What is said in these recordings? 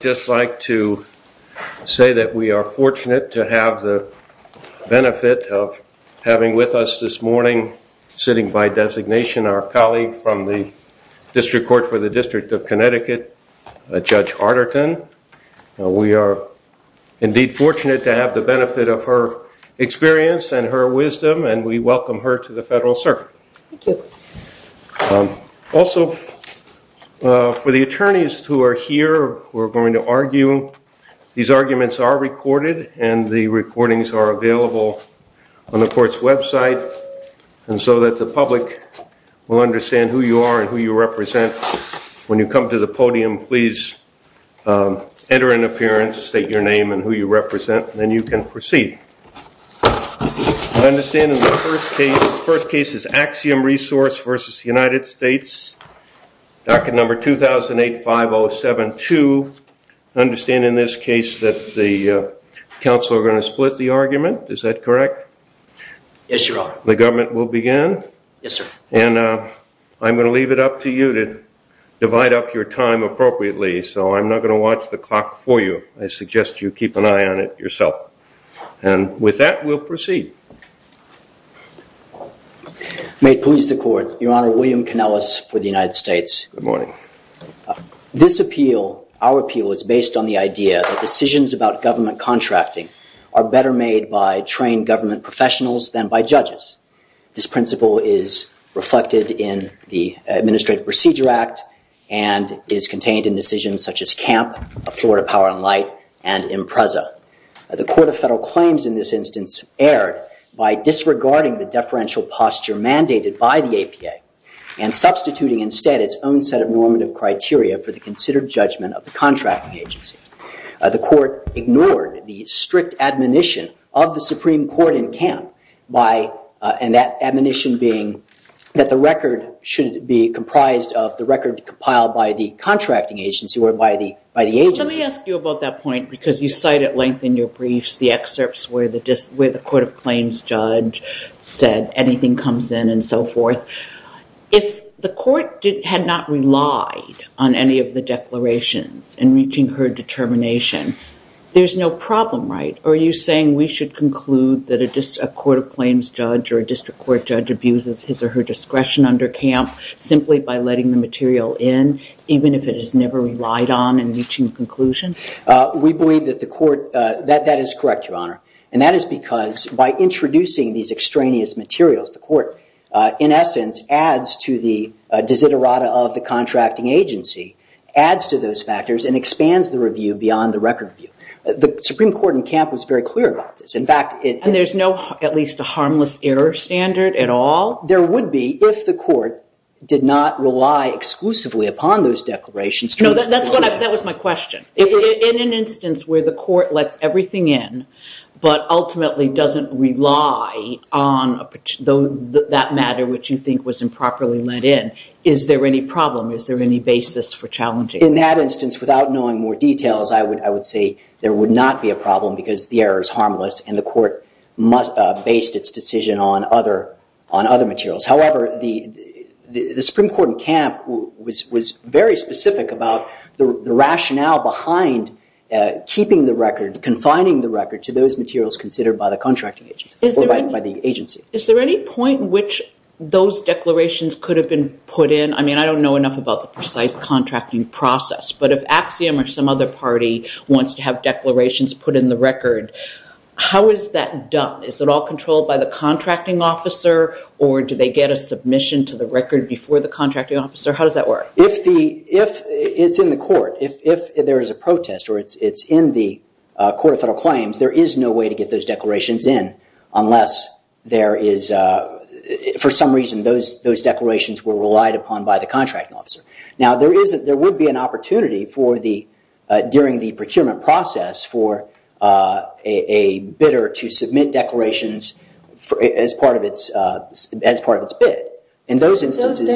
I would just like to say that we are fortunate to have the benefit of having with us this morning, sitting by designation, our colleague from the District Court for the District of Connecticut, Judge Harderton. We are indeed fortunate to have the benefit of her experience and her wisdom and we welcome her to the Federal Circuit. Also, for the attorneys who are here who are going to argue, these arguments are recorded and the recordings are available on the court's website and so that the public will understand who you are and who you represent. When you come to the podium, please enter an appearance, state your name and who you represent and then you can proceed. I understand in the first case, the first case is Axiom Resource v. United States, docket number 2008-5072. I understand in this case that the counsel are going to split the argument, is that correct? Yes, Your Honor. The government will begin? Yes, sir. And I'm going to leave it up to you to divide up your time appropriately, so I'm not going to watch the clock for you. I suggest you keep an eye on it yourself. And with that, we'll proceed. May it please the Court, Your Honor, William Kanellis for the United States. Good morning. This appeal, our appeal, is based on the idea that decisions about government contracting are better made by trained government professionals than by judges. This principle is reflected in the Administrative Procedure Act and is contained in decisions such as CAMP, Florida Power and Light, and IMPRESA. The Court of Federal Claims in this instance erred by disregarding the deferential posture mandated by the APA and substituting instead its own set of normative criteria for the considered judgment of the contracting agency. The Court ignored the strict admonition of the Supreme Court in CAMP, and that admonition being that the record should be comprised of the record compiled by the contracting agency or by the agency. Let me ask you about that point, because you cite at length in your briefs the excerpts where the Court of Claims judge said anything comes in and so forth. If the Court had not relied on any of the declarations in reaching her determination, there's no problem, right? Are you saying we should conclude that a Court of Claims judge or a district court judge abuses his or her discretion under CAMP simply by letting the material in, even if it is never relied on in reaching conclusion? We believe that the Court, that is correct, Your Honor. And that is because by introducing these extraneous materials, the Court, in essence, adds to the desiderata of the contracting agency, adds to those factors, and expands the review beyond the record view. The Supreme Court in CAMP was very clear about this. And there's no at least a harmless error standard at all? There would be if the Court did not rely exclusively upon those declarations. No, that was my question. In an instance where the Court lets everything in, but ultimately doesn't rely on that matter which you think was improperly let in, is there any problem? Is there any basis for challenging? In that instance, without knowing more details, I would say there would not be a problem because the error is harmless and the Court based its decision on other materials. However, the Supreme Court in CAMP was very specific about the rationale behind keeping the record, confining the record to those materials considered by the contracting agency or by the agency. Is there any point in which those declarations could have been put in? I mean, I don't know enough about the precise contracting process. But if Axiom or some other party wants to have declarations put in the record, how is that done? Is it all controlled by the contracting officer or do they get a submission to the record before the contracting officer? How does that work? It's in the Court. If there is a protest or it's in the Court of Federal Claims, there is no way to get those declarations in unless there is for some reason those declarations were relied upon by the contracting officer. Now, there would be an opportunity during the procurement process for a bidder to submit declarations as part of its bid. Could those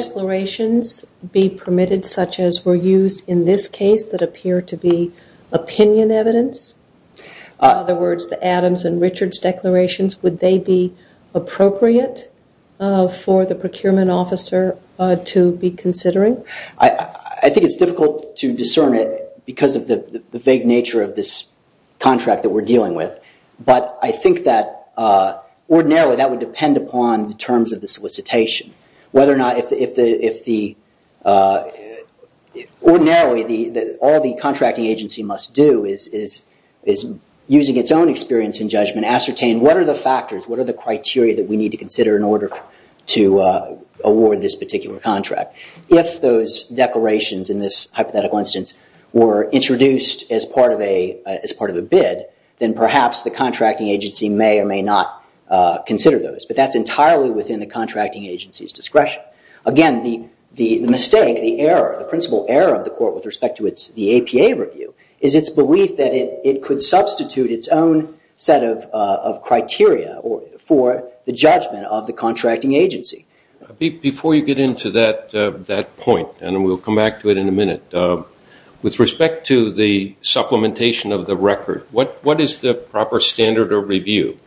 declarations be permitted such as were used in this case that appear to be opinion evidence? In other words, the Adams and Richards declarations, would they be appropriate for the procurement officer to be considering? I think it's difficult to discern it because of the vague nature of this contract that we're dealing with. But I think that ordinarily that would depend upon the terms of the solicitation. Ordinarily, all the contracting agency must do is, using its own experience and judgment, ascertain what are the factors, what are the criteria that we need to consider in order to award this particular contract. If those declarations in this hypothetical instance were introduced as part of a bid, then perhaps the contracting agency may or may not consider those. But that's entirely within the contracting agency's discretion. Again, the mistake, the error, the principal error of the Court with respect to the APA review is its belief that it could substitute its own set of criteria for the judgment of the contracting agency. Before you get into that point, and we'll come back to it in a minute, with respect to the supplementation of the record, what is the proper standard of review?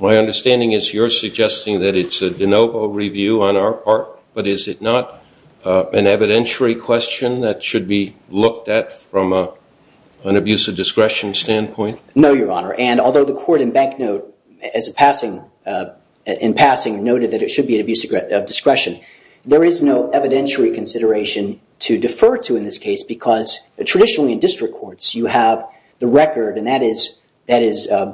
My understanding is you're suggesting that it's a de novo review on our part, but is it not an evidentiary question that should be looked at from an abuse of discretion standpoint? No, Your Honor, and although the Court in passing noted that it should be an abuse of discretion, there is no evidentiary consideration to defer to in this case because traditionally in district courts you have the record, and that is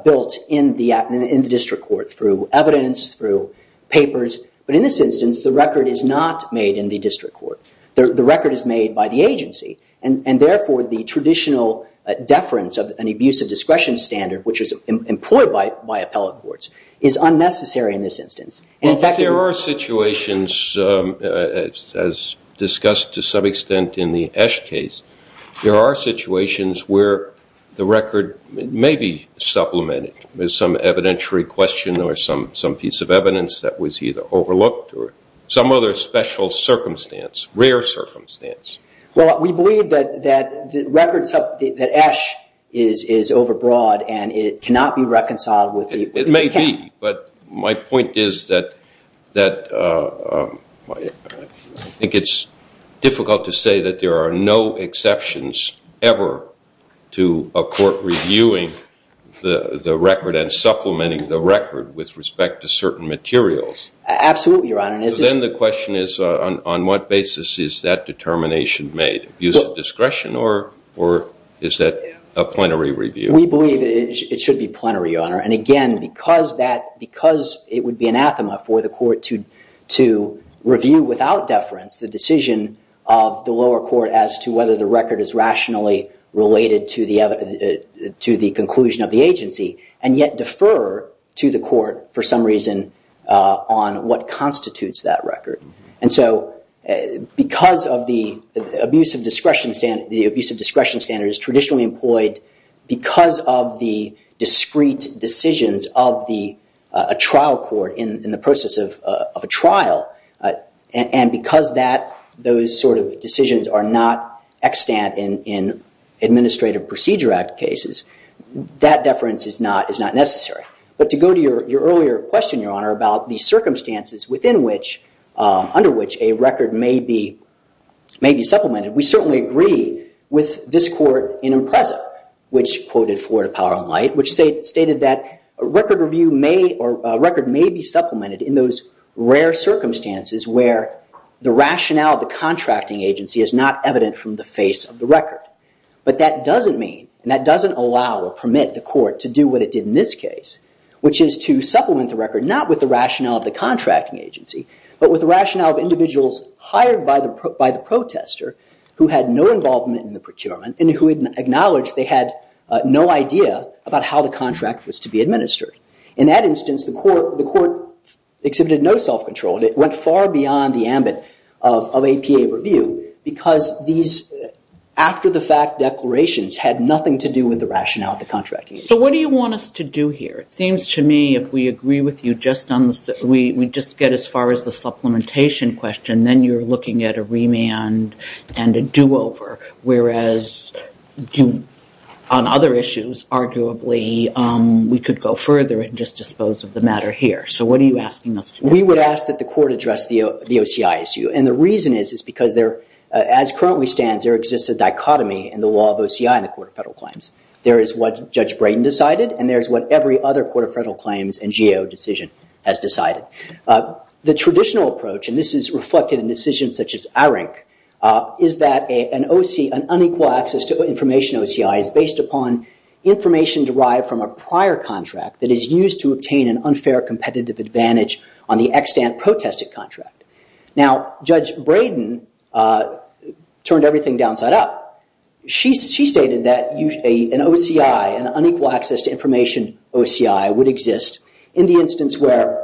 built in the district court through evidence, through papers. But in this instance, the record is not made in the district court. The record is made by the agency, and therefore the traditional deference of an abuse of discretion standard, which is employed by appellate courts, is unnecessary in this instance. There are situations, as discussed to some extent in the Esch case, there are situations where the record may be supplemented with some evidentiary question or some piece of evidence that was either overlooked or some other special circumstance, rare circumstance. Well, we believe that Esch is overbroad and it cannot be reconciled. It may be, but my point is that I think it's difficult to say that there are no exceptions ever to a court reviewing the record and supplementing the record with respect to certain materials. Absolutely, Your Honor. Then the question is on what basis is that determination made? Abuse of discretion or is that a plenary review? We believe it should be plenary, Your Honor. And again, because it would be anathema for the Court to review without deference the decision of the lower court as to whether the record is rationally related to the conclusion of the agency, and yet defer to the Court for some reason on what constitutes that record. And so because of the abuse of discretion standards traditionally employed, because of the discrete decisions of a trial court in the process of a trial, and because those sort of decisions are not extant in Administrative Procedure Act cases, that deference is not necessary. But to go to your earlier question, Your Honor, about the circumstances under which a record may be supplemented, we certainly agree with this court in Impreza, which quoted Florida Power and Light, which stated that a record may be supplemented in those rare circumstances where the rationale of the contracting agency is not evident from the face of the record. But that doesn't mean, and that doesn't allow or permit the court to do what it did in this case, which is to supplement the record not with the rationale of the contracting agency, but with the rationale of individuals hired by the protester who had no involvement in the procurement and who had acknowledged they had no idea about how the contract was to be administered. In that instance, the court exhibited no self-control. It went far beyond the ambit of APA review because these after-the-fact declarations had nothing to do with the rationale of the contracting agency. So what do you want us to do here? It seems to me if we agree with you, we just get as far as the supplementation question, then you're looking at a remand and a do-over, whereas on other issues, arguably, we could go further and just dispose of the matter here. So what are you asking us to do? We would ask that the court address the OCI issue. And the reason is because there, as currently stands, there exists a dichotomy in the law of OCI and the Court of Federal Claims. There is what Judge Brayden decided, and there is what every other Court of Federal Claims and GAO decision has decided. The traditional approach, and this is reflected in decisions such as ARINC, is that an unequal access to information OCI is based upon information derived from a prior contract that is used to obtain an unfair competitive advantage on the extant protested contract. Now, Judge Brayden turned everything downside up. She stated that an OCI, an unequal access to information OCI, would exist in the instance where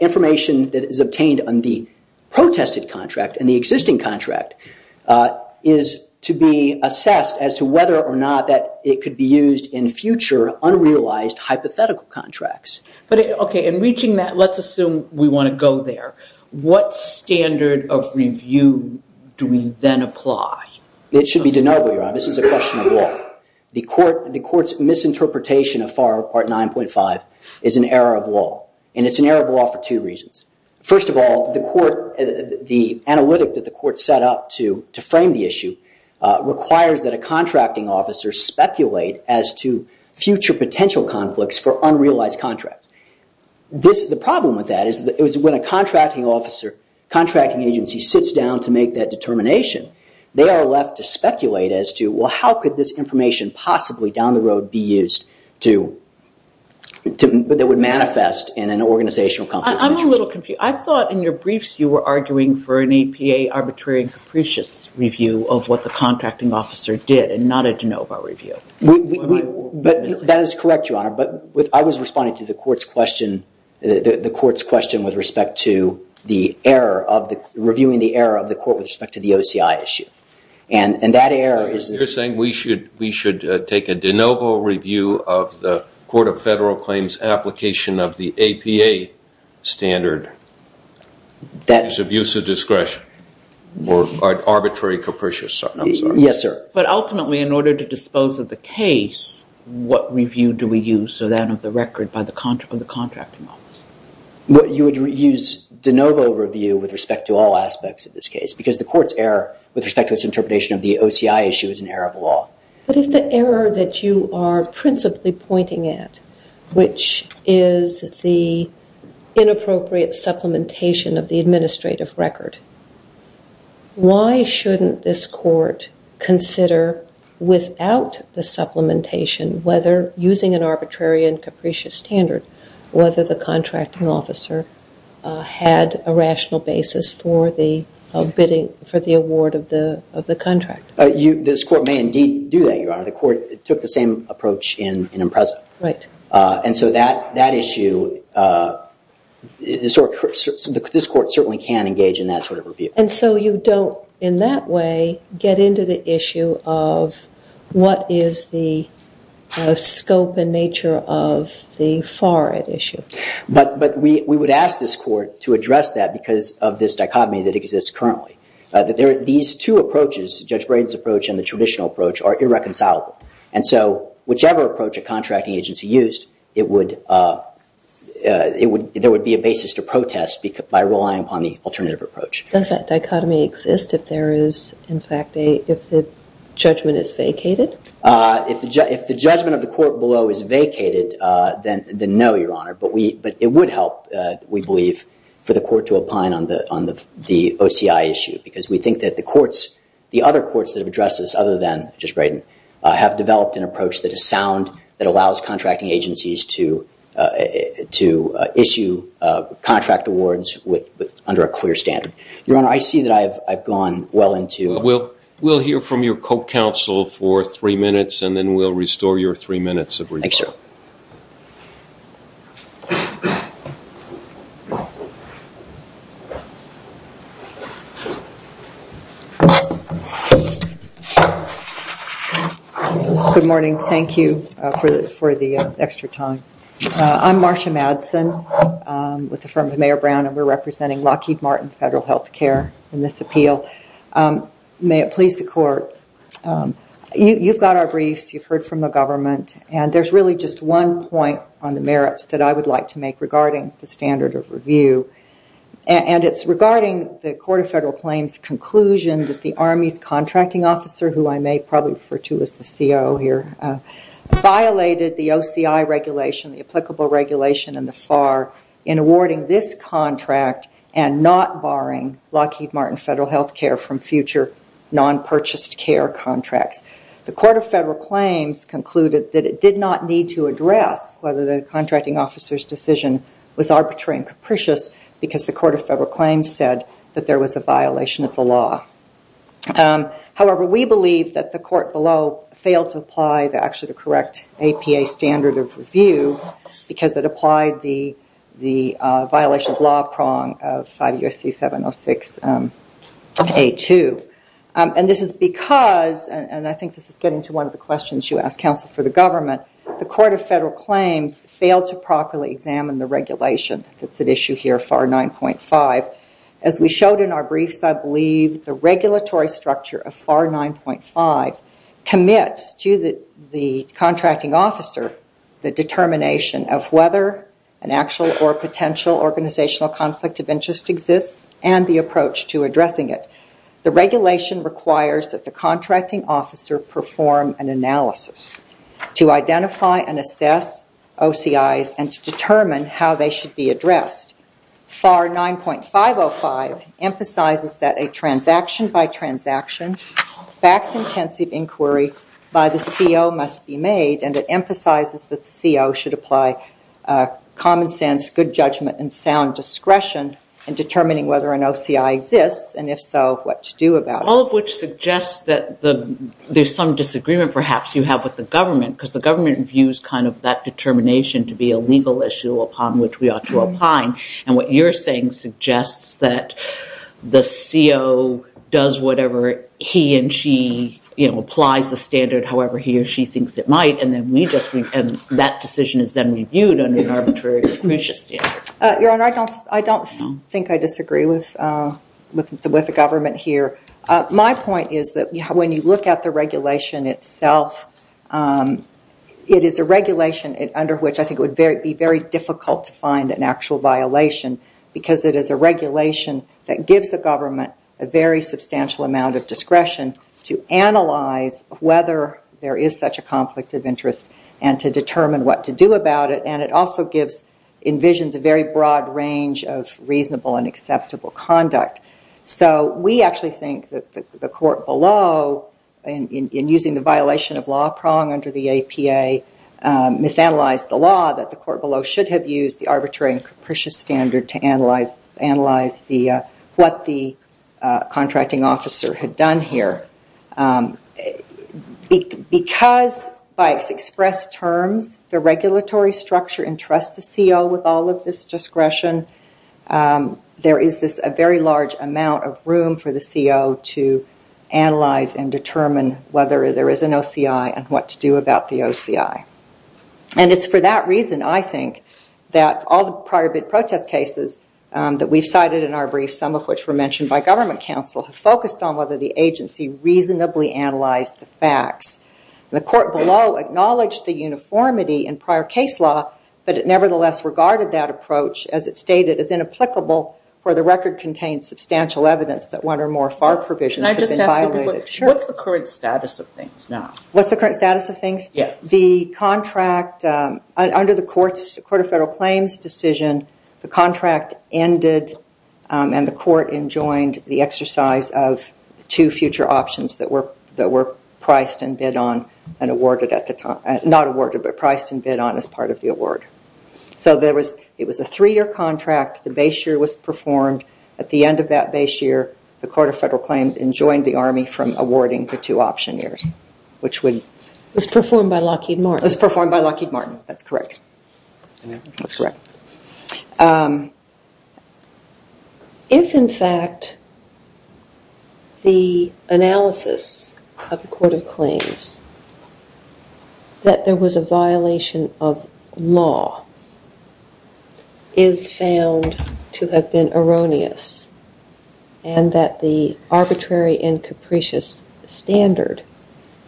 information that is obtained on the protested contract and the existing contract is to be assessed as to whether or not that it could be used in future unrealized hypothetical contracts. Okay, in reaching that, let's assume we want to go there. What standard of review do we then apply? It should be deniable, Your Honor. This is a question of law. The Court's misinterpretation of FAR Part 9.5 is an error of law, and it's an error of law for two reasons. requires that a contracting officer speculate as to future potential conflicts for unrealized contracts. The problem with that is when a contracting agency sits down to make that determination, they are left to speculate as to, well, how could this information possibly down the road be used that would manifest in an organizational conflict? I'm a little confused. I thought in your briefs you were arguing for an APA arbitrary and capricious review of what the contracting officer did and not a de novo review. That is correct, Your Honor, but I was responding to the Court's question with respect to the error of the reviewing the error of the Court with respect to the OCI issue. And that error is You're saying we should take a de novo review of the Court of Federal Claims application of the APA standard that is abuse of discretion or arbitrary capricious, I'm sorry. Yes, sir. But ultimately, in order to dispose of the case, what review do we use so that of the record by the contracting officer? You would use de novo review with respect to all aspects of this case because the Court's error with respect to its interpretation of the OCI issue is an error of law. But if the error that you are principally pointing at, which is the inappropriate supplementation of the administrative record, why shouldn't this Court consider without the supplementation, whether using an arbitrary and capricious standard, whether the contracting officer had a rational basis for the award of the contract? This Court may indeed do that, Your Honor. The Court took the same approach in Impreza. Right. And so that issue, this Court certainly can engage in that sort of review. And so you don't, in that way, get into the issue of what is the scope and nature of the FARAD issue. But we would ask this Court to address that because of this dichotomy that exists currently. These two approaches, Judge Braden's approach and the traditional approach, are irreconcilable. And so whichever approach a contracting agency used, there would be a basis to protest by relying upon the alternative approach. Does that dichotomy exist if there is, in fact, if the judgment is vacated? If the judgment of the Court below is vacated, then no, Your Honor. But it would help, we believe, for the Court to opine on the OCI issue because we think that the courts, the other courts that have addressed this other than Judge Braden, have developed an approach that is sound, that allows contracting agencies to issue contract awards under a clear standard. Your Honor, I see that I've gone well into- We'll hear from your co-counsel for three minutes and then we'll restore your three minutes of review. Thank you, sir. Good morning. Thank you for the extra time. I'm Marcia Madsen with the firm of Mayor Brown and we're representing Lockheed Martin Federal Health Care in this appeal. May it please the Court, you've got our briefs, you've heard from the government, and there's really just one point on the merits that I would like to make regarding the standard of review. And it's regarding the Court of Federal Claims' conclusion that the Army's contracting officer, who I may probably refer to as the CO here, violated the OCI regulation, the applicable regulation in the FAR, in awarding this contract and not borrowing Lockheed Martin Federal Health Care from future non-purchased care contracts. The Court of Federal Claims concluded that it did not need to address whether the contracting officer's decision was arbitrary and capricious because the Court of Federal Claims said that there was a violation of the law. However, we believe that the Court below failed to apply actually the correct APA standard of review because it applied the violation of law prong of 5 U.S.C. 706A2. And this is because, and I think this is getting to one of the questions you asked, counsel, for the government, the Court of Federal Claims failed to properly examine the regulation that's at issue here, FAR 9.5. As we showed in our briefs, I believe the regulatory structure of FAR 9.5 commits to the contracting officer the determination of whether an actual or potential organizational conflict of interest exists and the approach to addressing it. The regulation requires that the contracting officer perform an analysis to identify and assess OCIs and to determine how they should be addressed. FAR 9.505 emphasizes that a transaction-by-transaction, fact-intensive inquiry by the CO must be made and it emphasizes that the CO should apply common sense, good judgment and sound discretion in determining whether an OCI exists and if so, what to do about it. All of which suggests that there's some disagreement perhaps you have with the government because the government views kind of that determination to be a legal issue upon which we ought to opine. And what you're saying suggests that the CO does whatever he and she, you know, applies the standard however he or she thinks it might and then we just, and that decision is then reviewed under an arbitrary standard. Your Honor, I don't think I disagree with the government here. My point is that when you look at the regulation itself, it is a regulation under which I think it would be very difficult to find an actual violation because it is a regulation that gives the government a very substantial amount of discretion to analyze whether there is such a conflict of interest and to determine what to do about it and it also gives, envisions a very broad range of reasonable and acceptable conduct. So we actually think that the court below, in using the violation of law prong under the APA, misanalyzed the law that the court below should have used the arbitrary and capricious standard to analyze what the contracting officer had done here. Because by expressed terms, the regulatory structure entrusts the CO with all of this discretion, there is this very large amount of room for the CO to analyze and determine whether there is an OCI and what to do about the OCI. And it's for that reason, I think, that all the prior bid protest cases that we've cited in our briefs, some of which were mentioned by government counsel, focused on whether the agency reasonably analyzed the facts. The court below acknowledged the uniformity in prior case law, but it nevertheless regarded that approach, as it stated, as inapplicable where the record contains substantial evidence that one or more FAR provisions have been violated. What's the current status of things now? What's the current status of things? Yes. The contract, under the Court of Federal Claims decision, the contract ended and the court enjoined the exercise of two future options that were priced and bid on and awarded at the time. Not awarded, but priced and bid on as part of the award. So it was a three-year contract. The base year was performed. At the end of that base year, the Court of Federal Claims enjoined the Army from awarding the two option years. Which was performed by Lockheed Martin. It was performed by Lockheed Martin. That's correct. That's correct. If, in fact, the analysis of the Court of Claims that there was a violation of law is found to have been erroneous and that the arbitrary and capricious standard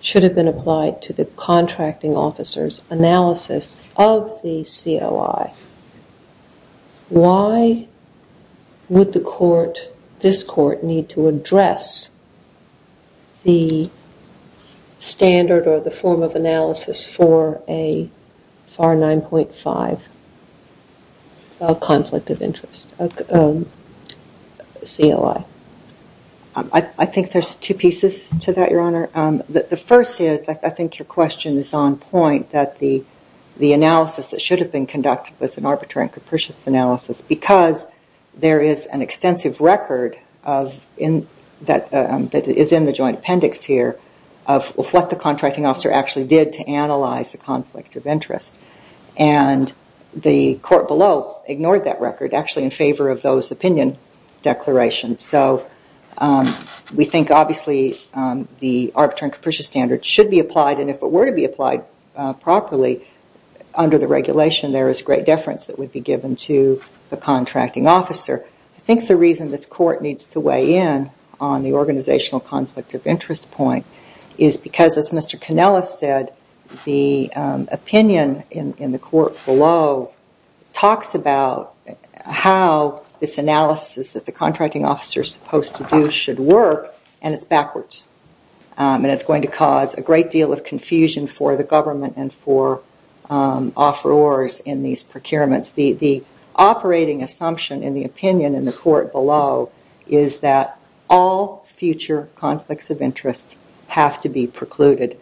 should have been applied to the contracting officer's analysis of the CLI, why would the court, this court, need to address the standard or the form of analysis for a FAR 9.5 conflict of interest, CLI? I think there's two pieces to that, Your Honor. The first is, I think your question is on point, that the analysis that should have been conducted was an arbitrary and capricious analysis because there is an extensive record that is in the joint appendix here of what the contracting officer actually did to analyze the conflict of interest. And the court below ignored that record, actually in favor of those opinion declarations. So we think, obviously, the arbitrary and capricious standard should be applied. And if it were to be applied properly under the regulation, there is great deference that would be given to the contracting officer. I think the reason this court needs to weigh in on the organizational conflict of interest point is because, as Mr. Kanellis said, the opinion in the court below talks about how this analysis that the contracting officer is supposed to do should work, and it's backwards. And it's going to cause a great deal of confusion for the government and for offerors in these procurements. The operating assumption in the opinion in the court below is that all future conflicts of interest have to be precluded,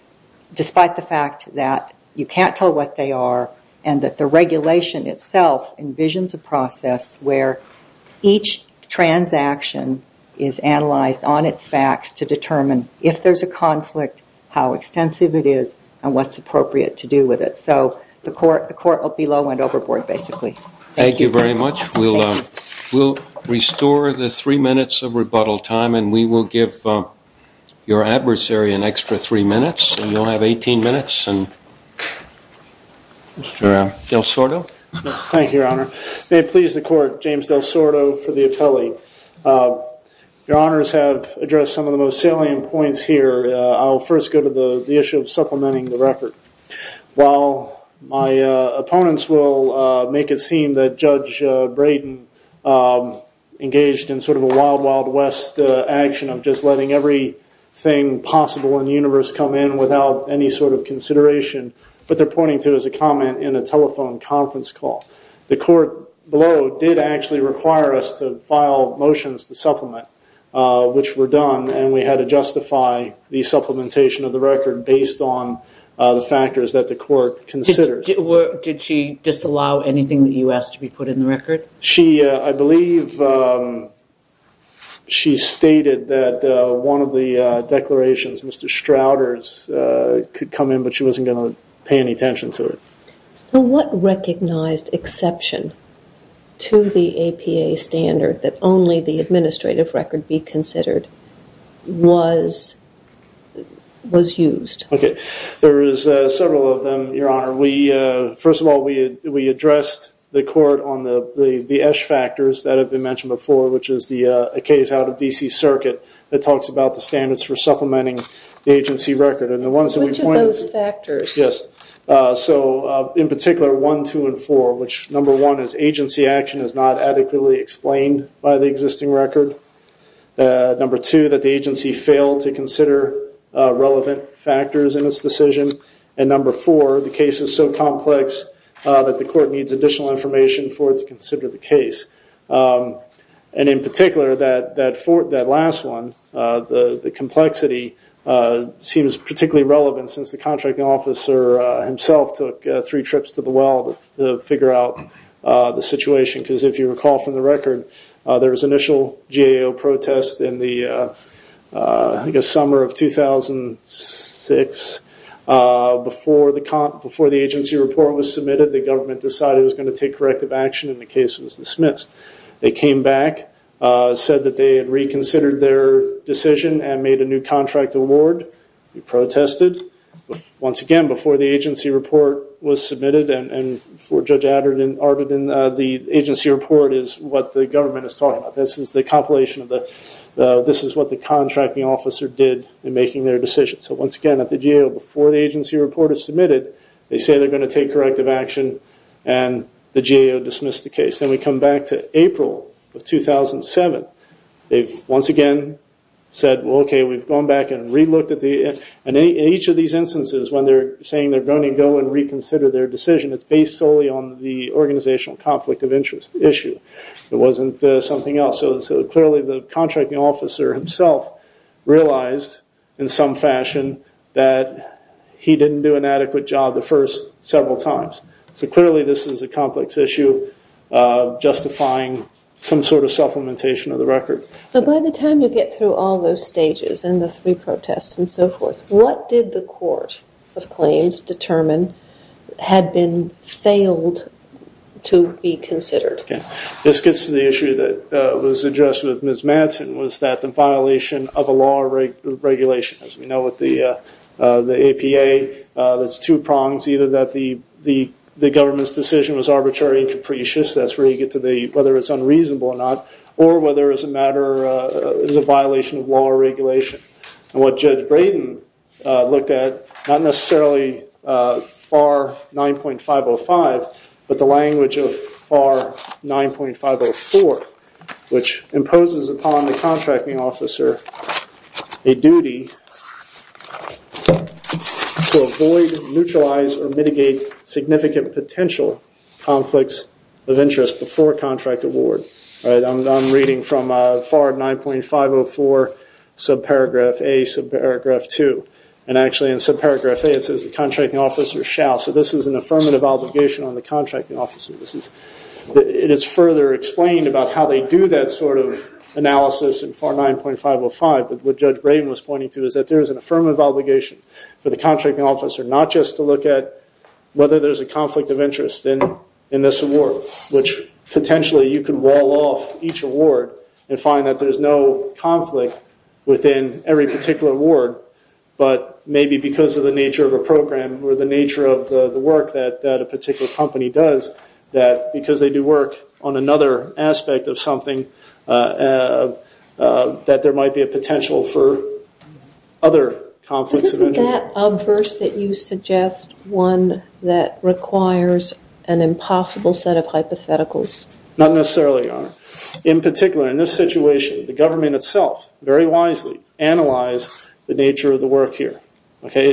despite the fact that you can't tell what they are, and that the regulation itself envisions a process where each transaction is analyzed on its facts to determine if there's a conflict, how extensive it is, and what's appropriate to do with it. So the court below went overboard, basically. Thank you very much. We'll restore the three minutes of rebuttal time, and we will give your adversary an extra three minutes, and you'll have 18 minutes. Mr. Del Sordo. Thank you, Your Honor. May it please the court, James Del Sordo for the appellee. Your Honors have addressed some of the most salient points here. I'll first go to the issue of supplementing the record. While my opponents will make it seem that Judge Brayden engaged in sort of a wild, wild west action of just letting everything possible in the universe come in without any sort of consideration, what they're pointing to is a comment in a telephone conference call. The court below did actually require us to file motions to supplement, which were done, and we had to justify the supplementation of the record based on the factors that the court considered. Did she disallow anything that you asked to be put in the record? I believe she stated that one of the declarations, Mr. Strouders, could come in, but she wasn't going to pay any attention to it. So what recognized exception to the APA standard that only the administrative record be considered was used? There is several of them, Your Honor. First of all, we addressed the court on the Esch factors that have been mentioned before, which is a case out of D.C. Circuit that talks about the standards for supplementing the agency record. Which of those factors? Yes. So in particular, one, two, and four, which number one is agency action is not adequately explained by the existing record. Number two, that the agency failed to consider relevant factors in its decision. And number four, the case is so complex that the court needs additional information for it to consider the case. And in particular, that last one, the complexity seems particularly relevant since the contracting officer himself took three trips to the well to figure out the situation. Because if you recall from the record, there was initial GAO protest in the summer of 2006. Before the agency report was submitted, the government decided it was going to take corrective action and the case was dismissed. They came back, said that they had reconsidered their decision and made a new contract award. They protested. Once again, before the agency report was submitted and before Judge Arden, the agency report is what the government is talking about. This is the compilation. This is what the contracting officer did in making their decision. So once again, at the GAO, before the agency report is submitted, they say they're going to take corrective action and the GAO dismissed the case. Then we come back to April of 2007. They've once again said, well, okay, we've gone back and re-looked at the – and in each of these instances when they're saying they're going to go and reconsider their decision, it's based solely on the organizational conflict of interest issue. It wasn't something else. So clearly the contracting officer himself realized in some fashion that he didn't do an adequate job the first several times. So clearly this is a complex issue justifying some sort of supplementation of the record. So by the time you get through all those stages and the three protests and so forth, what did the court of claims determine had been failed to be considered? This gets to the issue that was addressed with Ms. Madsen, was that the violation of a law or regulation. As we know with the APA, there's two prongs, either that the government's decision was arbitrary and capricious, that's where you get to whether it's unreasonable or not, or whether it was a violation of law or regulation. And what Judge Braden looked at, not necessarily FAR 9.505, but the language of FAR 9.504, which imposes upon the contracting officer a duty to avoid, neutralize, or mitigate significant potential conflicts of interest before contract award. I'm reading from FAR 9.504, subparagraph A, subparagraph 2. And actually in subparagraph A it says, the contracting officer shall. So this is an affirmative obligation on the contracting officer. It is further explained about how they do that sort of analysis in FAR 9.505, but what Judge Braden was pointing to is that there is an affirmative obligation for the contracting officer, not just to look at whether there's a conflict of interest in this award, which potentially you could wall off each award and find that there's no conflict within every particular award, but maybe because of the nature of the program or the nature of the work that a particular company does, that because they do work on another aspect of something, that there might be a potential for other conflicts of interest. But isn't that a verse that you suggest, one that requires an impossible set of hypotheticals? Not necessarily, Your Honor. In particular, in this situation, the government itself very wisely analyzed the nature of the work here.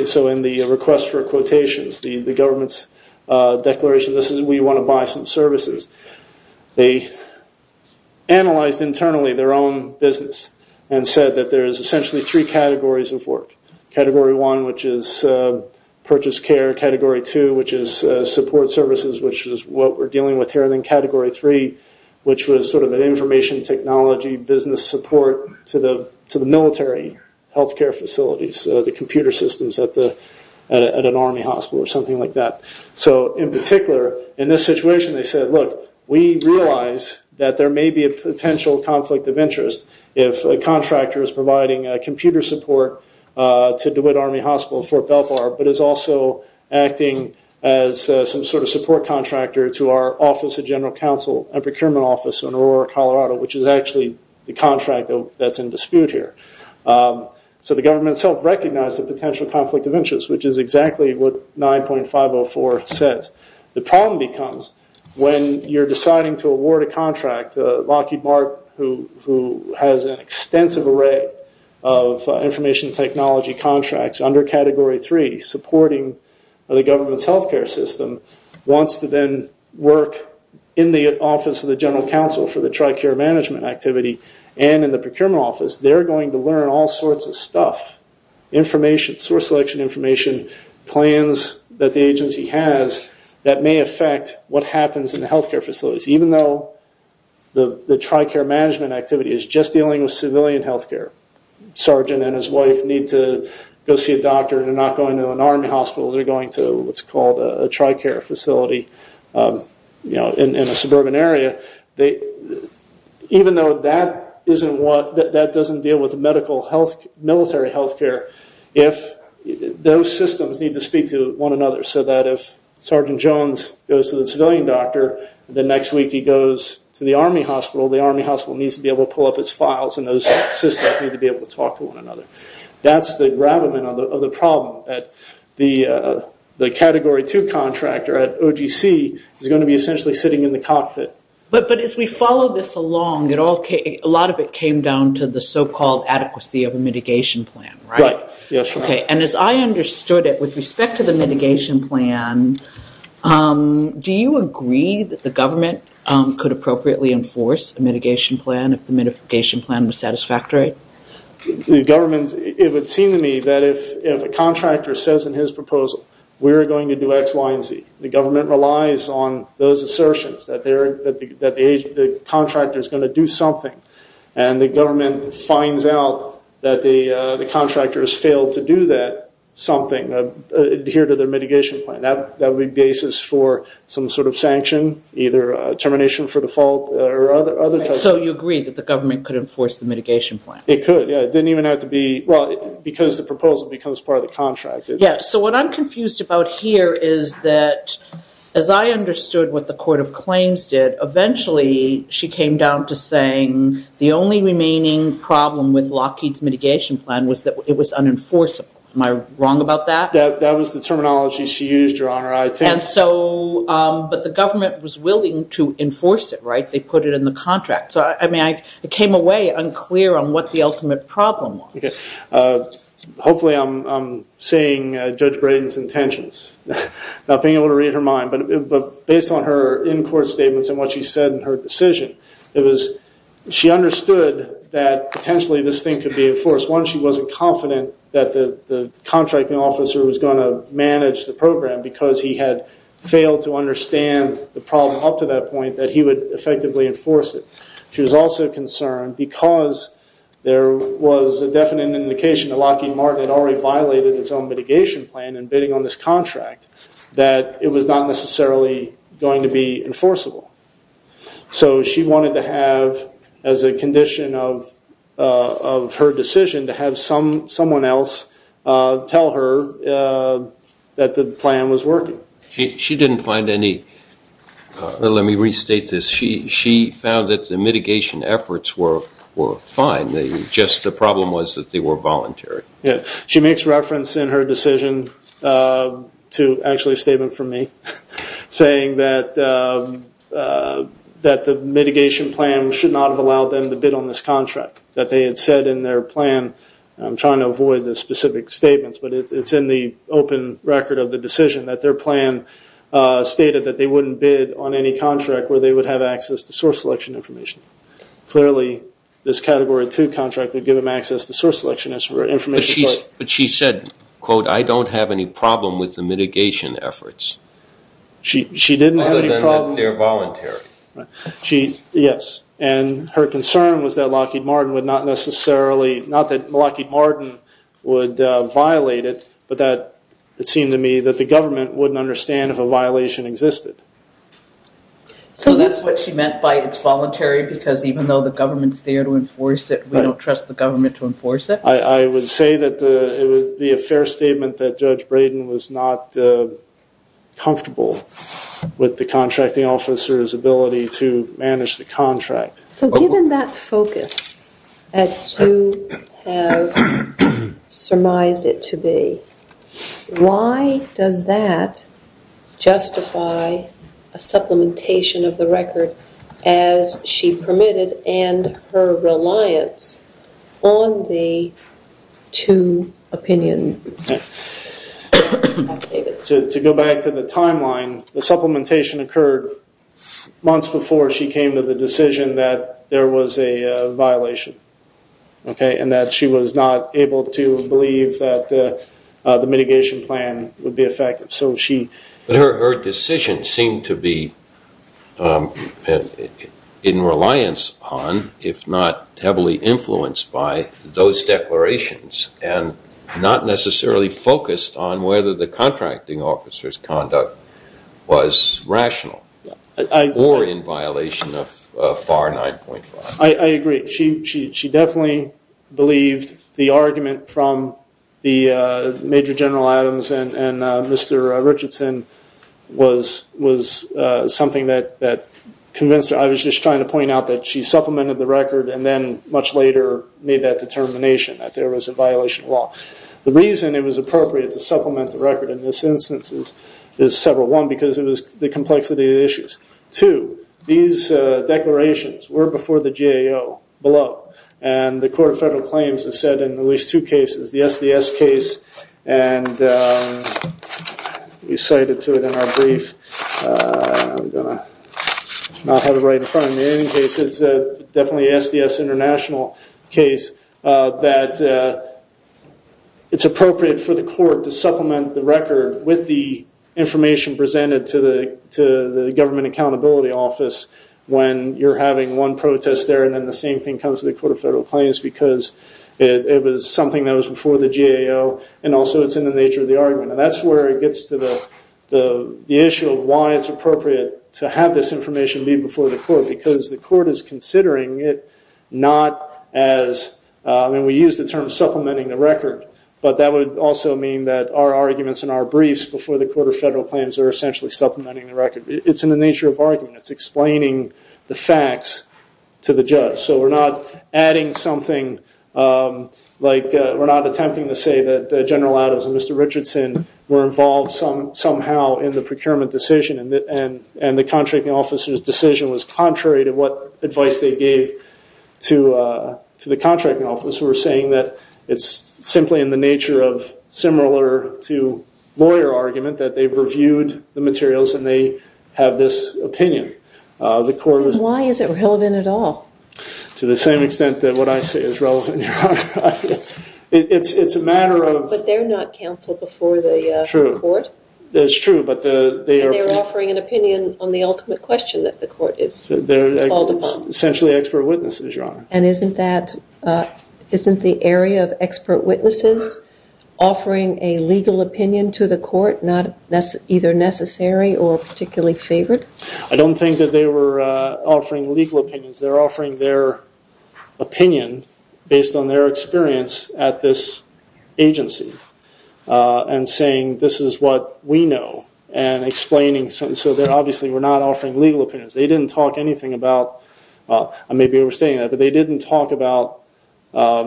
So in the request for quotations, the government's declaration, this is we want to buy some services, they analyzed internally their own business and said that there is essentially three categories of work. Category 1, which is purchase care. Category 2, which is support services, which is what we're dealing with here. And then Category 3, which was sort of an information technology business support to the military health care facilities, the computer systems at an Army hospital or something like that. So in particular, in this situation, they said, look, we realize that there may be a potential conflict of interest if a contractor is providing computer support to DeWitt Army Hospital, Fort Belvoir, but is also acting as some sort of support contractor to our Office of General Counsel and Procurement Office in Aurora, Colorado, which is actually the contract that's in dispute here. So the government itself recognized the potential conflict of interest, which is exactly what 9.504 says. In fact, Lockheed Martin, who has an extensive array of information technology contracts under Category 3, supporting the government's health care system, wants to then work in the Office of the General Counsel for the TRICARE management activity and in the Procurement Office. They're going to learn all sorts of stuff, information, source selection information, plans that the agency has that may affect what happens in the health care facilities, even though the TRICARE management activity is just dealing with civilian health care. Sergeant and his wife need to go see a doctor. They're not going to an Army hospital. They're going to what's called a TRICARE facility in a suburban area. Even though that doesn't deal with military health care, those systems need to speak to one another so that if Sergeant Jones goes to the civilian doctor, the next week he goes to the Army hospital, the Army hospital needs to be able to pull up its files and those systems need to be able to talk to one another. That's the gravamen of the problem. The Category 2 contractor at OGC is going to be essentially sitting in the cockpit. But as we follow this along, a lot of it came down to the so-called adequacy of a mitigation plan, right? Right, yes. Okay, and as I understood it, with respect to the mitigation plan, do you agree that the government could appropriately enforce a mitigation plan if the mitigation plan was satisfactory? The government, it would seem to me that if a contractor says in his proposal, we're going to do X, Y, and Z, the government relies on those assertions that the contractor is going to do something and the government finds out that the contractor has failed to do that something, adhere to their mitigation plan. That would be the basis for some sort of sanction, either termination for default or other types. So you agree that the government could enforce the mitigation plan? It could, yes. It didn't even have to be, well, because the proposal becomes part of the contract. Yes, so what I'm confused about here is that as I understood what the Court of Claims did, eventually she came down to saying the only remaining problem with Lockheed's mitigation plan was that it was unenforceable. Am I wrong about that? That was the terminology she used, Your Honor. But the government was willing to enforce it, right? They put it in the contract. So, I mean, it came away unclear on what the ultimate problem was. Hopefully I'm seeing Judge Braden's intentions. Not being able to read her mind, but based on her in-court statements and what she said in her decision, it was she understood that potentially this thing could be enforced. One, she wasn't confident that the contracting officer was going to manage the program because he had failed to understand the problem up to that point that he would effectively enforce it. She was also concerned because there was a definite indication that Lockheed Martin had already violated its own mitigation plan in bidding on this contract, that it was not necessarily going to be enforceable. So she wanted to have as a condition of her decision to have someone else tell her that the plan was working. She didn't find any. Let me restate this. She found that the mitigation efforts were fine. Just the problem was that they were voluntary. She makes reference in her decision to actually a statement from me saying that the mitigation plan should not have allowed them to bid on this contract, that they had said in their plan. I'm trying to avoid the specific statements, but it's in the open record of the decision that their plan stated that they wouldn't bid on any contract where they would have access to source selection information. Clearly, this Category 2 contract would give them access to source selection information. But she said, quote, I don't have any problem with the mitigation efforts. She didn't have any problem. Other than that they're voluntary. Yes. And her concern was that Lockheed Martin would not necessarily, not that Lockheed Martin would violate it, but that it seemed to me that the government wouldn't understand if a violation existed. So that's what she meant by it's voluntary because even though the government's there to enforce it, we don't trust the government to enforce it? I would say that it would be a fair statement that Judge Braden was not comfortable with the contracting officer's ability to manage the contract. So given that focus, as you have surmised it to be, why does that justify a supplementation of the record as she permitted and her reliance on the two opinion? To go back to the timeline, the supplementation occurred months before she came to the decision that there was a violation and that she was not able to believe that the mitigation plan would be effective. But her decision seemed to be in reliance on, if not heavily influenced by, those declarations and not necessarily focused on whether the contracting officer's conduct was rational or in violation of FAR 9.5. I agree. She definitely believed the argument from the Major General Adams and Mr. Richardson was something that convinced her. I was just trying to point out that she supplemented the record and then much later made that determination that there was a violation of law. The reason it was appropriate to supplement the record in this instance is several. One, because it was the complexity of the issues. Two, these declarations were before the GAO below, and the Court of Federal Claims has said in at least two cases, the SDS case, and we cited to it in our brief. I'm going to not have it right in front of me. In any case, it's definitely an SDS international case, with the information presented to the Government Accountability Office when you're having one protest there and then the same thing comes to the Court of Federal Claims because it was something that was before the GAO, and also it's in the nature of the argument. And that's where it gets to the issue of why it's appropriate to have this information be before the Court, because the Court is considering it not as, and we use the term supplementing the record, but that would also mean that our arguments in our briefs before the Court of Federal Claims are essentially supplementing the record. It's in the nature of argument. It's explaining the facts to the judge. So we're not adding something, like we're not attempting to say that General Adams and Mr. Richardson were involved somehow in the procurement decision and the contracting officer's decision was contrary to what advice they gave to the contracting office. We're saying that it's simply in the nature of similar to lawyer argument, that they've reviewed the materials and they have this opinion. Why is it relevant at all? To the same extent that what I say is relevant, Your Honor. It's a matter of... But they're not counsel before the Court? True. And they're offering an opinion on the ultimate question that the Court is called upon. They're essentially expert witnesses, Your Honor. And isn't the area of expert witnesses offering a legal opinion to the Court either necessary or particularly favored? I don't think that they were offering legal opinions. They're offering their opinion based on their experience at this agency and saying this is what we know and explaining. So they obviously were not offering legal opinions. They didn't talk anything about... They didn't talk about the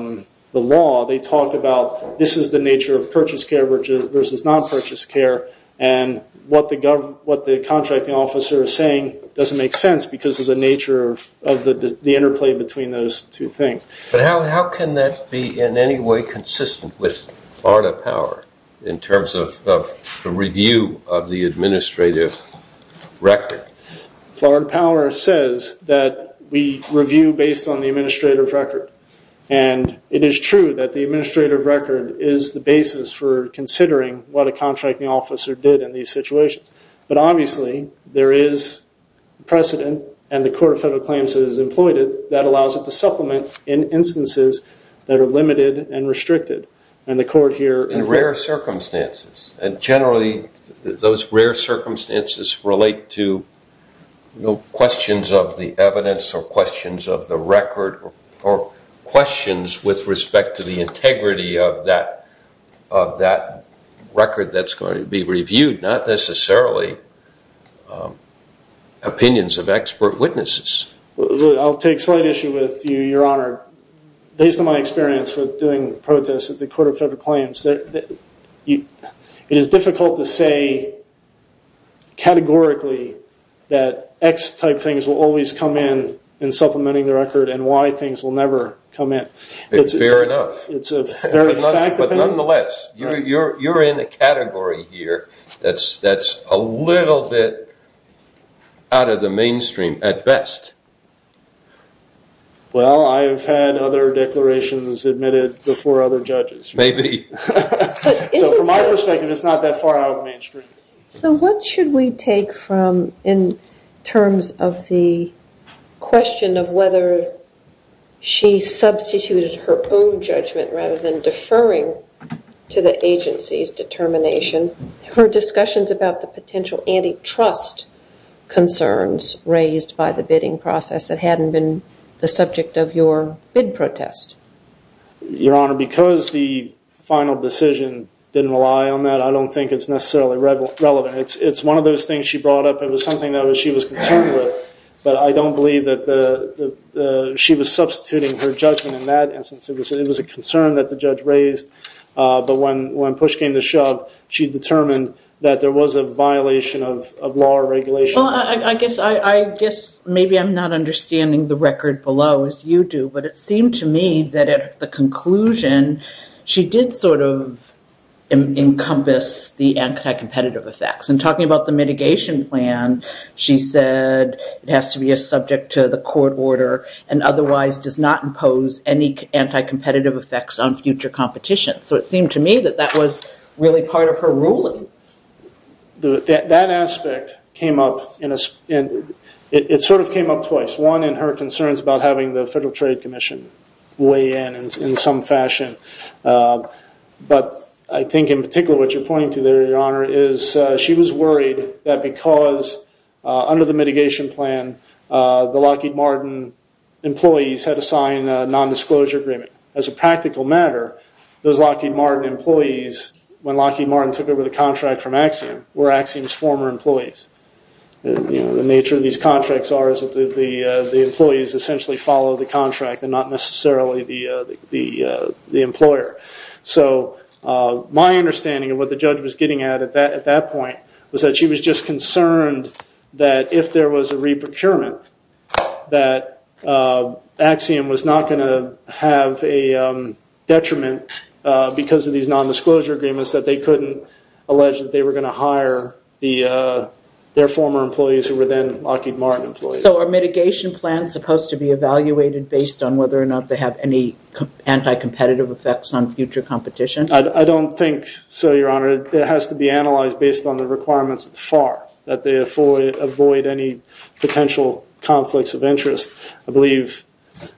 law. They talked about this is the nature of purchase care versus non-purchase care and what the contracting officer is saying doesn't make sense because of the nature of the interplay between those two things. But how can that be in any way consistent with Florida Power in terms of the review of the administrative record? Florida Power says that we review based on the administrative record. And it is true that the administrative record is the basis for considering what a contracting officer did in these situations. But obviously there is precedent and the Court of Federal Claims has employed it that allows it to supplement in instances that are limited and restricted. And the Court here... In rare circumstances. And generally those rare circumstances relate to questions of the evidence or questions of the record or questions with respect to the integrity of that record that's going to be reviewed, not necessarily opinions of expert witnesses. I'll take a slight issue with you, Your Honor. Based on my experience with doing protests at the Court of Federal Claims, it is difficult to say categorically that X type things will always come in in supplementing the record and Y things will never come in. It's fair enough. But nonetheless, you're in a category here that's a little bit out of the mainstream at best. Well, I've had other declarations admitted before other judges. Maybe. So from my perspective, it's not that far out of the mainstream. So what should we take from, in terms of the question of whether she substituted her own judgment rather than deferring to the agency's determination, her discussions about the potential antitrust concerns raised by the bidding process that hadn't been the subject of your bid protest? Your Honor, because the final decision didn't rely on that, I don't think it's necessarily relevant. It's one of those things she brought up. It was something that she was concerned with, but I don't believe that she was substituting her judgment in that instance. It was a concern that the judge raised, but when push came to shove, she determined that there was a violation of law or regulation. Well, I guess maybe I'm not understanding the record below, as you do, but it seemed to me that at the conclusion, she did sort of encompass the anti-competitive effects. In talking about the mitigation plan, she said it has to be a subject to the court order and otherwise does not impose any anti-competitive effects on future competition. So it seemed to me that that was really part of her ruling. That aspect came up, and it sort of came up twice. One, in her concerns about having the Federal Trade Commission weigh in in some fashion, but I think in particular what you're pointing to there, Your Honor, is she was worried that because under the mitigation plan, the Lockheed Martin employees had to sign a nondisclosure agreement. As a practical matter, those Lockheed Martin employees, when Lockheed Martin took over the contract from Axiom, were Axiom's former employees. The nature of these contracts are that the employees essentially follow the contract and not necessarily the employer. So my understanding of what the judge was getting at at that point was that she was just concerned that if there was a re-procurement, that Axiom was not going to have a detriment because of these nondisclosure agreements, that they couldn't allege that they were going to hire their former employees who were then Lockheed Martin employees. So are mitigation plans supposed to be evaluated based on whether or not they have any anti-competitive effects on future competition? I don't think so, Your Honor. It has to be analyzed based on the requirements of FAR, that they avoid any potential conflicts of interest. I believe,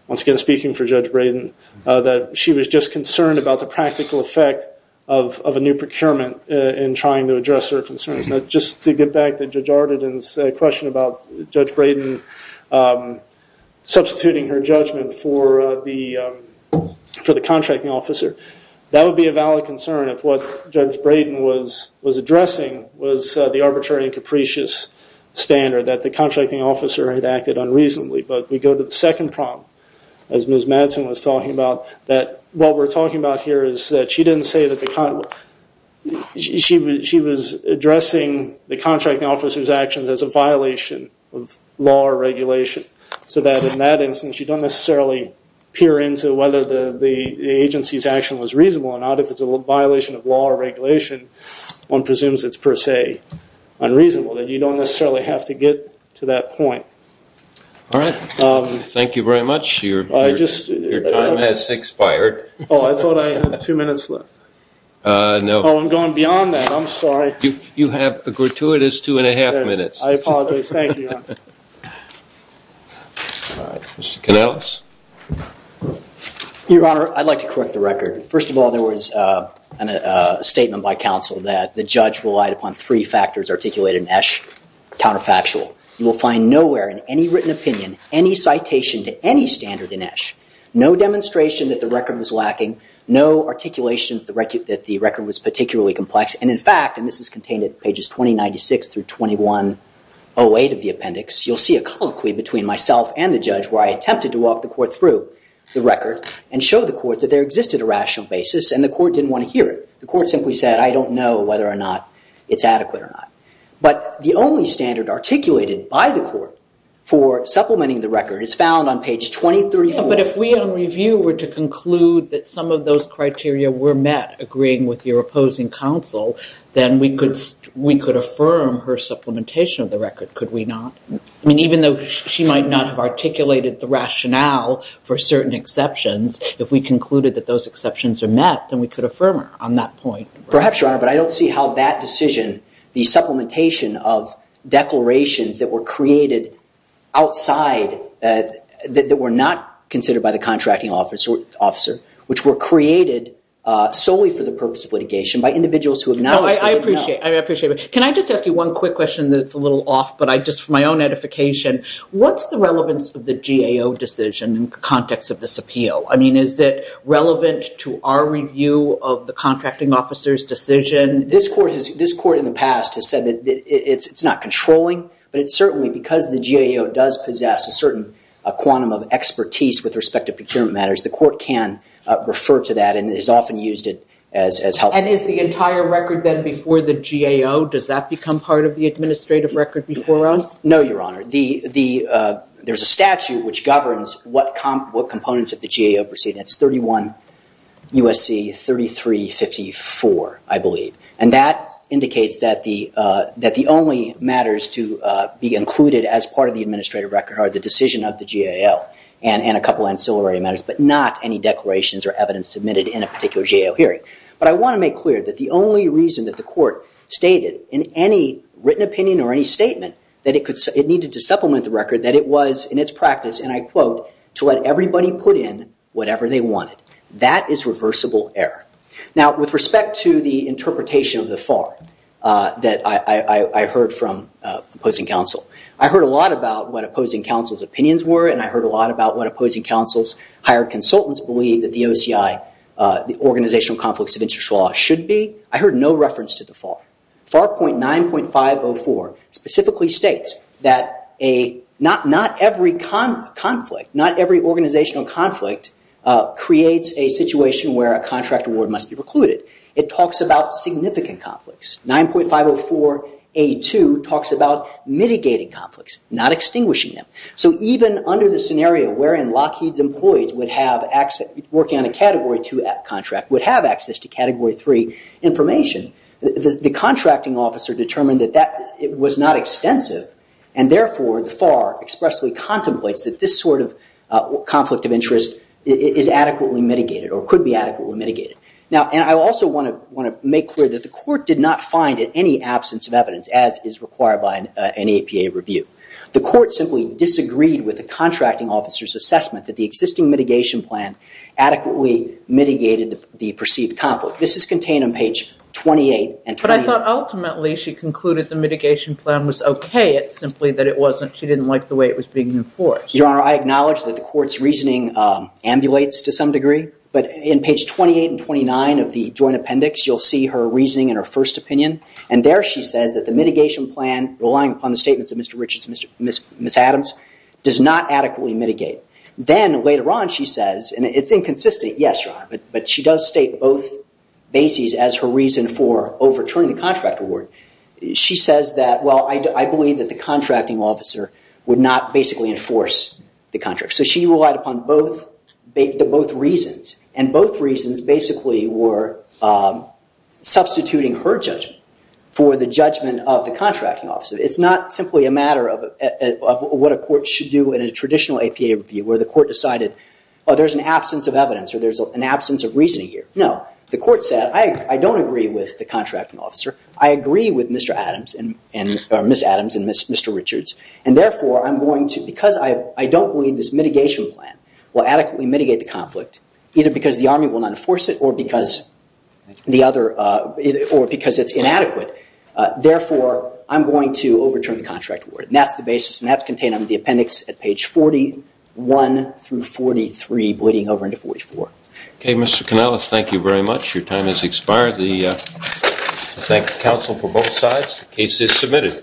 once again speaking for Judge Braden, that she was just concerned about the practical effect of a new procurement in trying to address her concerns. Just to get back to Judge Arden's question about Judge Braden substituting her judgment for the contracting officer, that would be a valid concern if what Judge Braden was addressing was the arbitrary and capricious standard, that the contracting officer had acted unreasonably. But we go to the second problem, as Ms. Madsen was talking about, that what we're talking about here is that she was addressing the contracting officer's actions as a violation of law or regulation, so that in that instance you don't necessarily peer into whether the agency's action was reasonable or not. If it's a violation of law or regulation, one presumes it's per se unreasonable, then you don't necessarily have to get to that point. All right. Thank you very much. Your time has expired. Oh, I thought I had two minutes left. No. Oh, I'm going beyond that. I'm sorry. You have a gratuitous two and a half minutes. I apologize. Thank you, Your Honor. All right. Mr. Canales? Your Honor, I'd like to correct the record. First of all, there was a statement by counsel that the judge relied upon three factors articulated in Esch counterfactual. You will find nowhere in any written opinion, any citation to any standard in Esch, no demonstration that the record was lacking, no articulation that the record was particularly complex, and in fact, and this is contained at pages 2096 through 2108 of the appendix, you'll see a colloquy between myself and the judge where I attempted to walk the court through the record and show the court that there existed a rational basis and the court didn't want to hear it. The court simply said, I don't know whether or not it's adequate or not. But the only standard articulated by the court for supplementing the record is found on page 2034. But if we on review were to conclude that some of those criteria were met, agreeing with your opposing counsel, then we could affirm her supplementation of the record, could we not? I mean, even though she might not have articulated the rationale for certain exceptions, if we concluded that those exceptions are met, then we could affirm her on that point. Perhaps, Your Honor, but I don't see how that decision, the supplementation of declarations that were created outside, that were not considered by the contracting officer, which were created solely for the purpose of litigation by individuals who acknowledge that they did not. I appreciate it. Can I just ask you one quick question that's a little off, but just for my own edification. What's the relevance of the GAO decision in the context of this appeal? I mean, is it relevant to our review of the contracting officer's decision? This court in the past has said that it's not controlling, but it certainly, because the GAO does possess a certain quantum of expertise with respect to procurement matters, the court can refer to that and has often used it as helpful. And is the entire record then before the GAO? Does that become part of the administrative record before us? No, Your Honor. There's a statute which governs what components of the GAO proceedings, 31 U.S.C. 3354, I believe. And that indicates that the only matters to be included as part of the administrative record are the decision of the GAO and a couple of ancillary matters, but not any declarations or evidence submitted in a particular GAO hearing. But I want to make clear that the only reason that the court stated in any written opinion or any statement that it needed to supplement the record, that it was in its practice, and I quote, to let everybody put in whatever they wanted. That is reversible error. Now, with respect to the interpretation of the FAR that I heard from opposing counsel, I heard a lot about what opposing counsel's opinions were and I heard a lot about what opposing counsel's hired consultants believed that the OCI, the Organizational Conflicts of Interest Law, should be. I heard no reference to the FAR. FAR 9.504 specifically states that not every conflict, not every organizational conflict, creates a situation where a contract award must be precluded. It talks about significant conflicts. 9.504A2 talks about mitigating conflicts, not extinguishing them. So even under the scenario wherein Lockheed's employees working on a Category 2 contract would have access to Category 3 information, the contracting officer determined that that was not extensive and therefore the FAR expressly contemplates that this sort of conflict of interest is adequately mitigated or could be adequately mitigated. And I also want to make clear that the court did not find in any absence of evidence, as is required by an APA review, the court simply disagreed with the contracting officer's assessment that the existing mitigation plan adequately mitigated the perceived conflict. This is contained on page 28 and 29. But I thought ultimately she concluded the mitigation plan was OK, it's simply that it wasn't, she didn't like the way it was being enforced. Your Honor, I acknowledge that the court's reasoning ambulates to some degree, but in page 28 and 29 of the Joint Appendix, you'll see her reasoning in her first opinion, and there she says that the mitigation plan, relying upon the statements of Mr. Richards and Ms. Adams, does not adequately mitigate. Then later on she says, and it's inconsistent, yes, Your Honor, but she does state both bases as her reason for overturning the contract award. She says that, well, I believe that the contracting officer would not basically enforce the contract. So she relied upon both reasons, and both reasons basically were substituting her judgment for the judgment of the contracting officer. It's not simply a matter of what a court should do in a traditional APA review, where the court decided, oh, there's an absence of evidence, or there's an absence of reasoning here. No, the court said, I don't agree with the contracting officer, I agree with Mr. Adams, or Ms. Adams and Mr. Richards, and therefore I'm going to, because I don't believe this mitigation plan will adequately mitigate the conflict, either because the Army will not enforce it, or because it's inadequate, therefore I'm going to overturn the contract award. And that's the basis, and that's contained under the appendix at page 41 through 43, bleeding over into 44. Okay, Mr. Kanellis, thank you very much. Your time has expired. I thank the counsel for both sides. The case is submitted.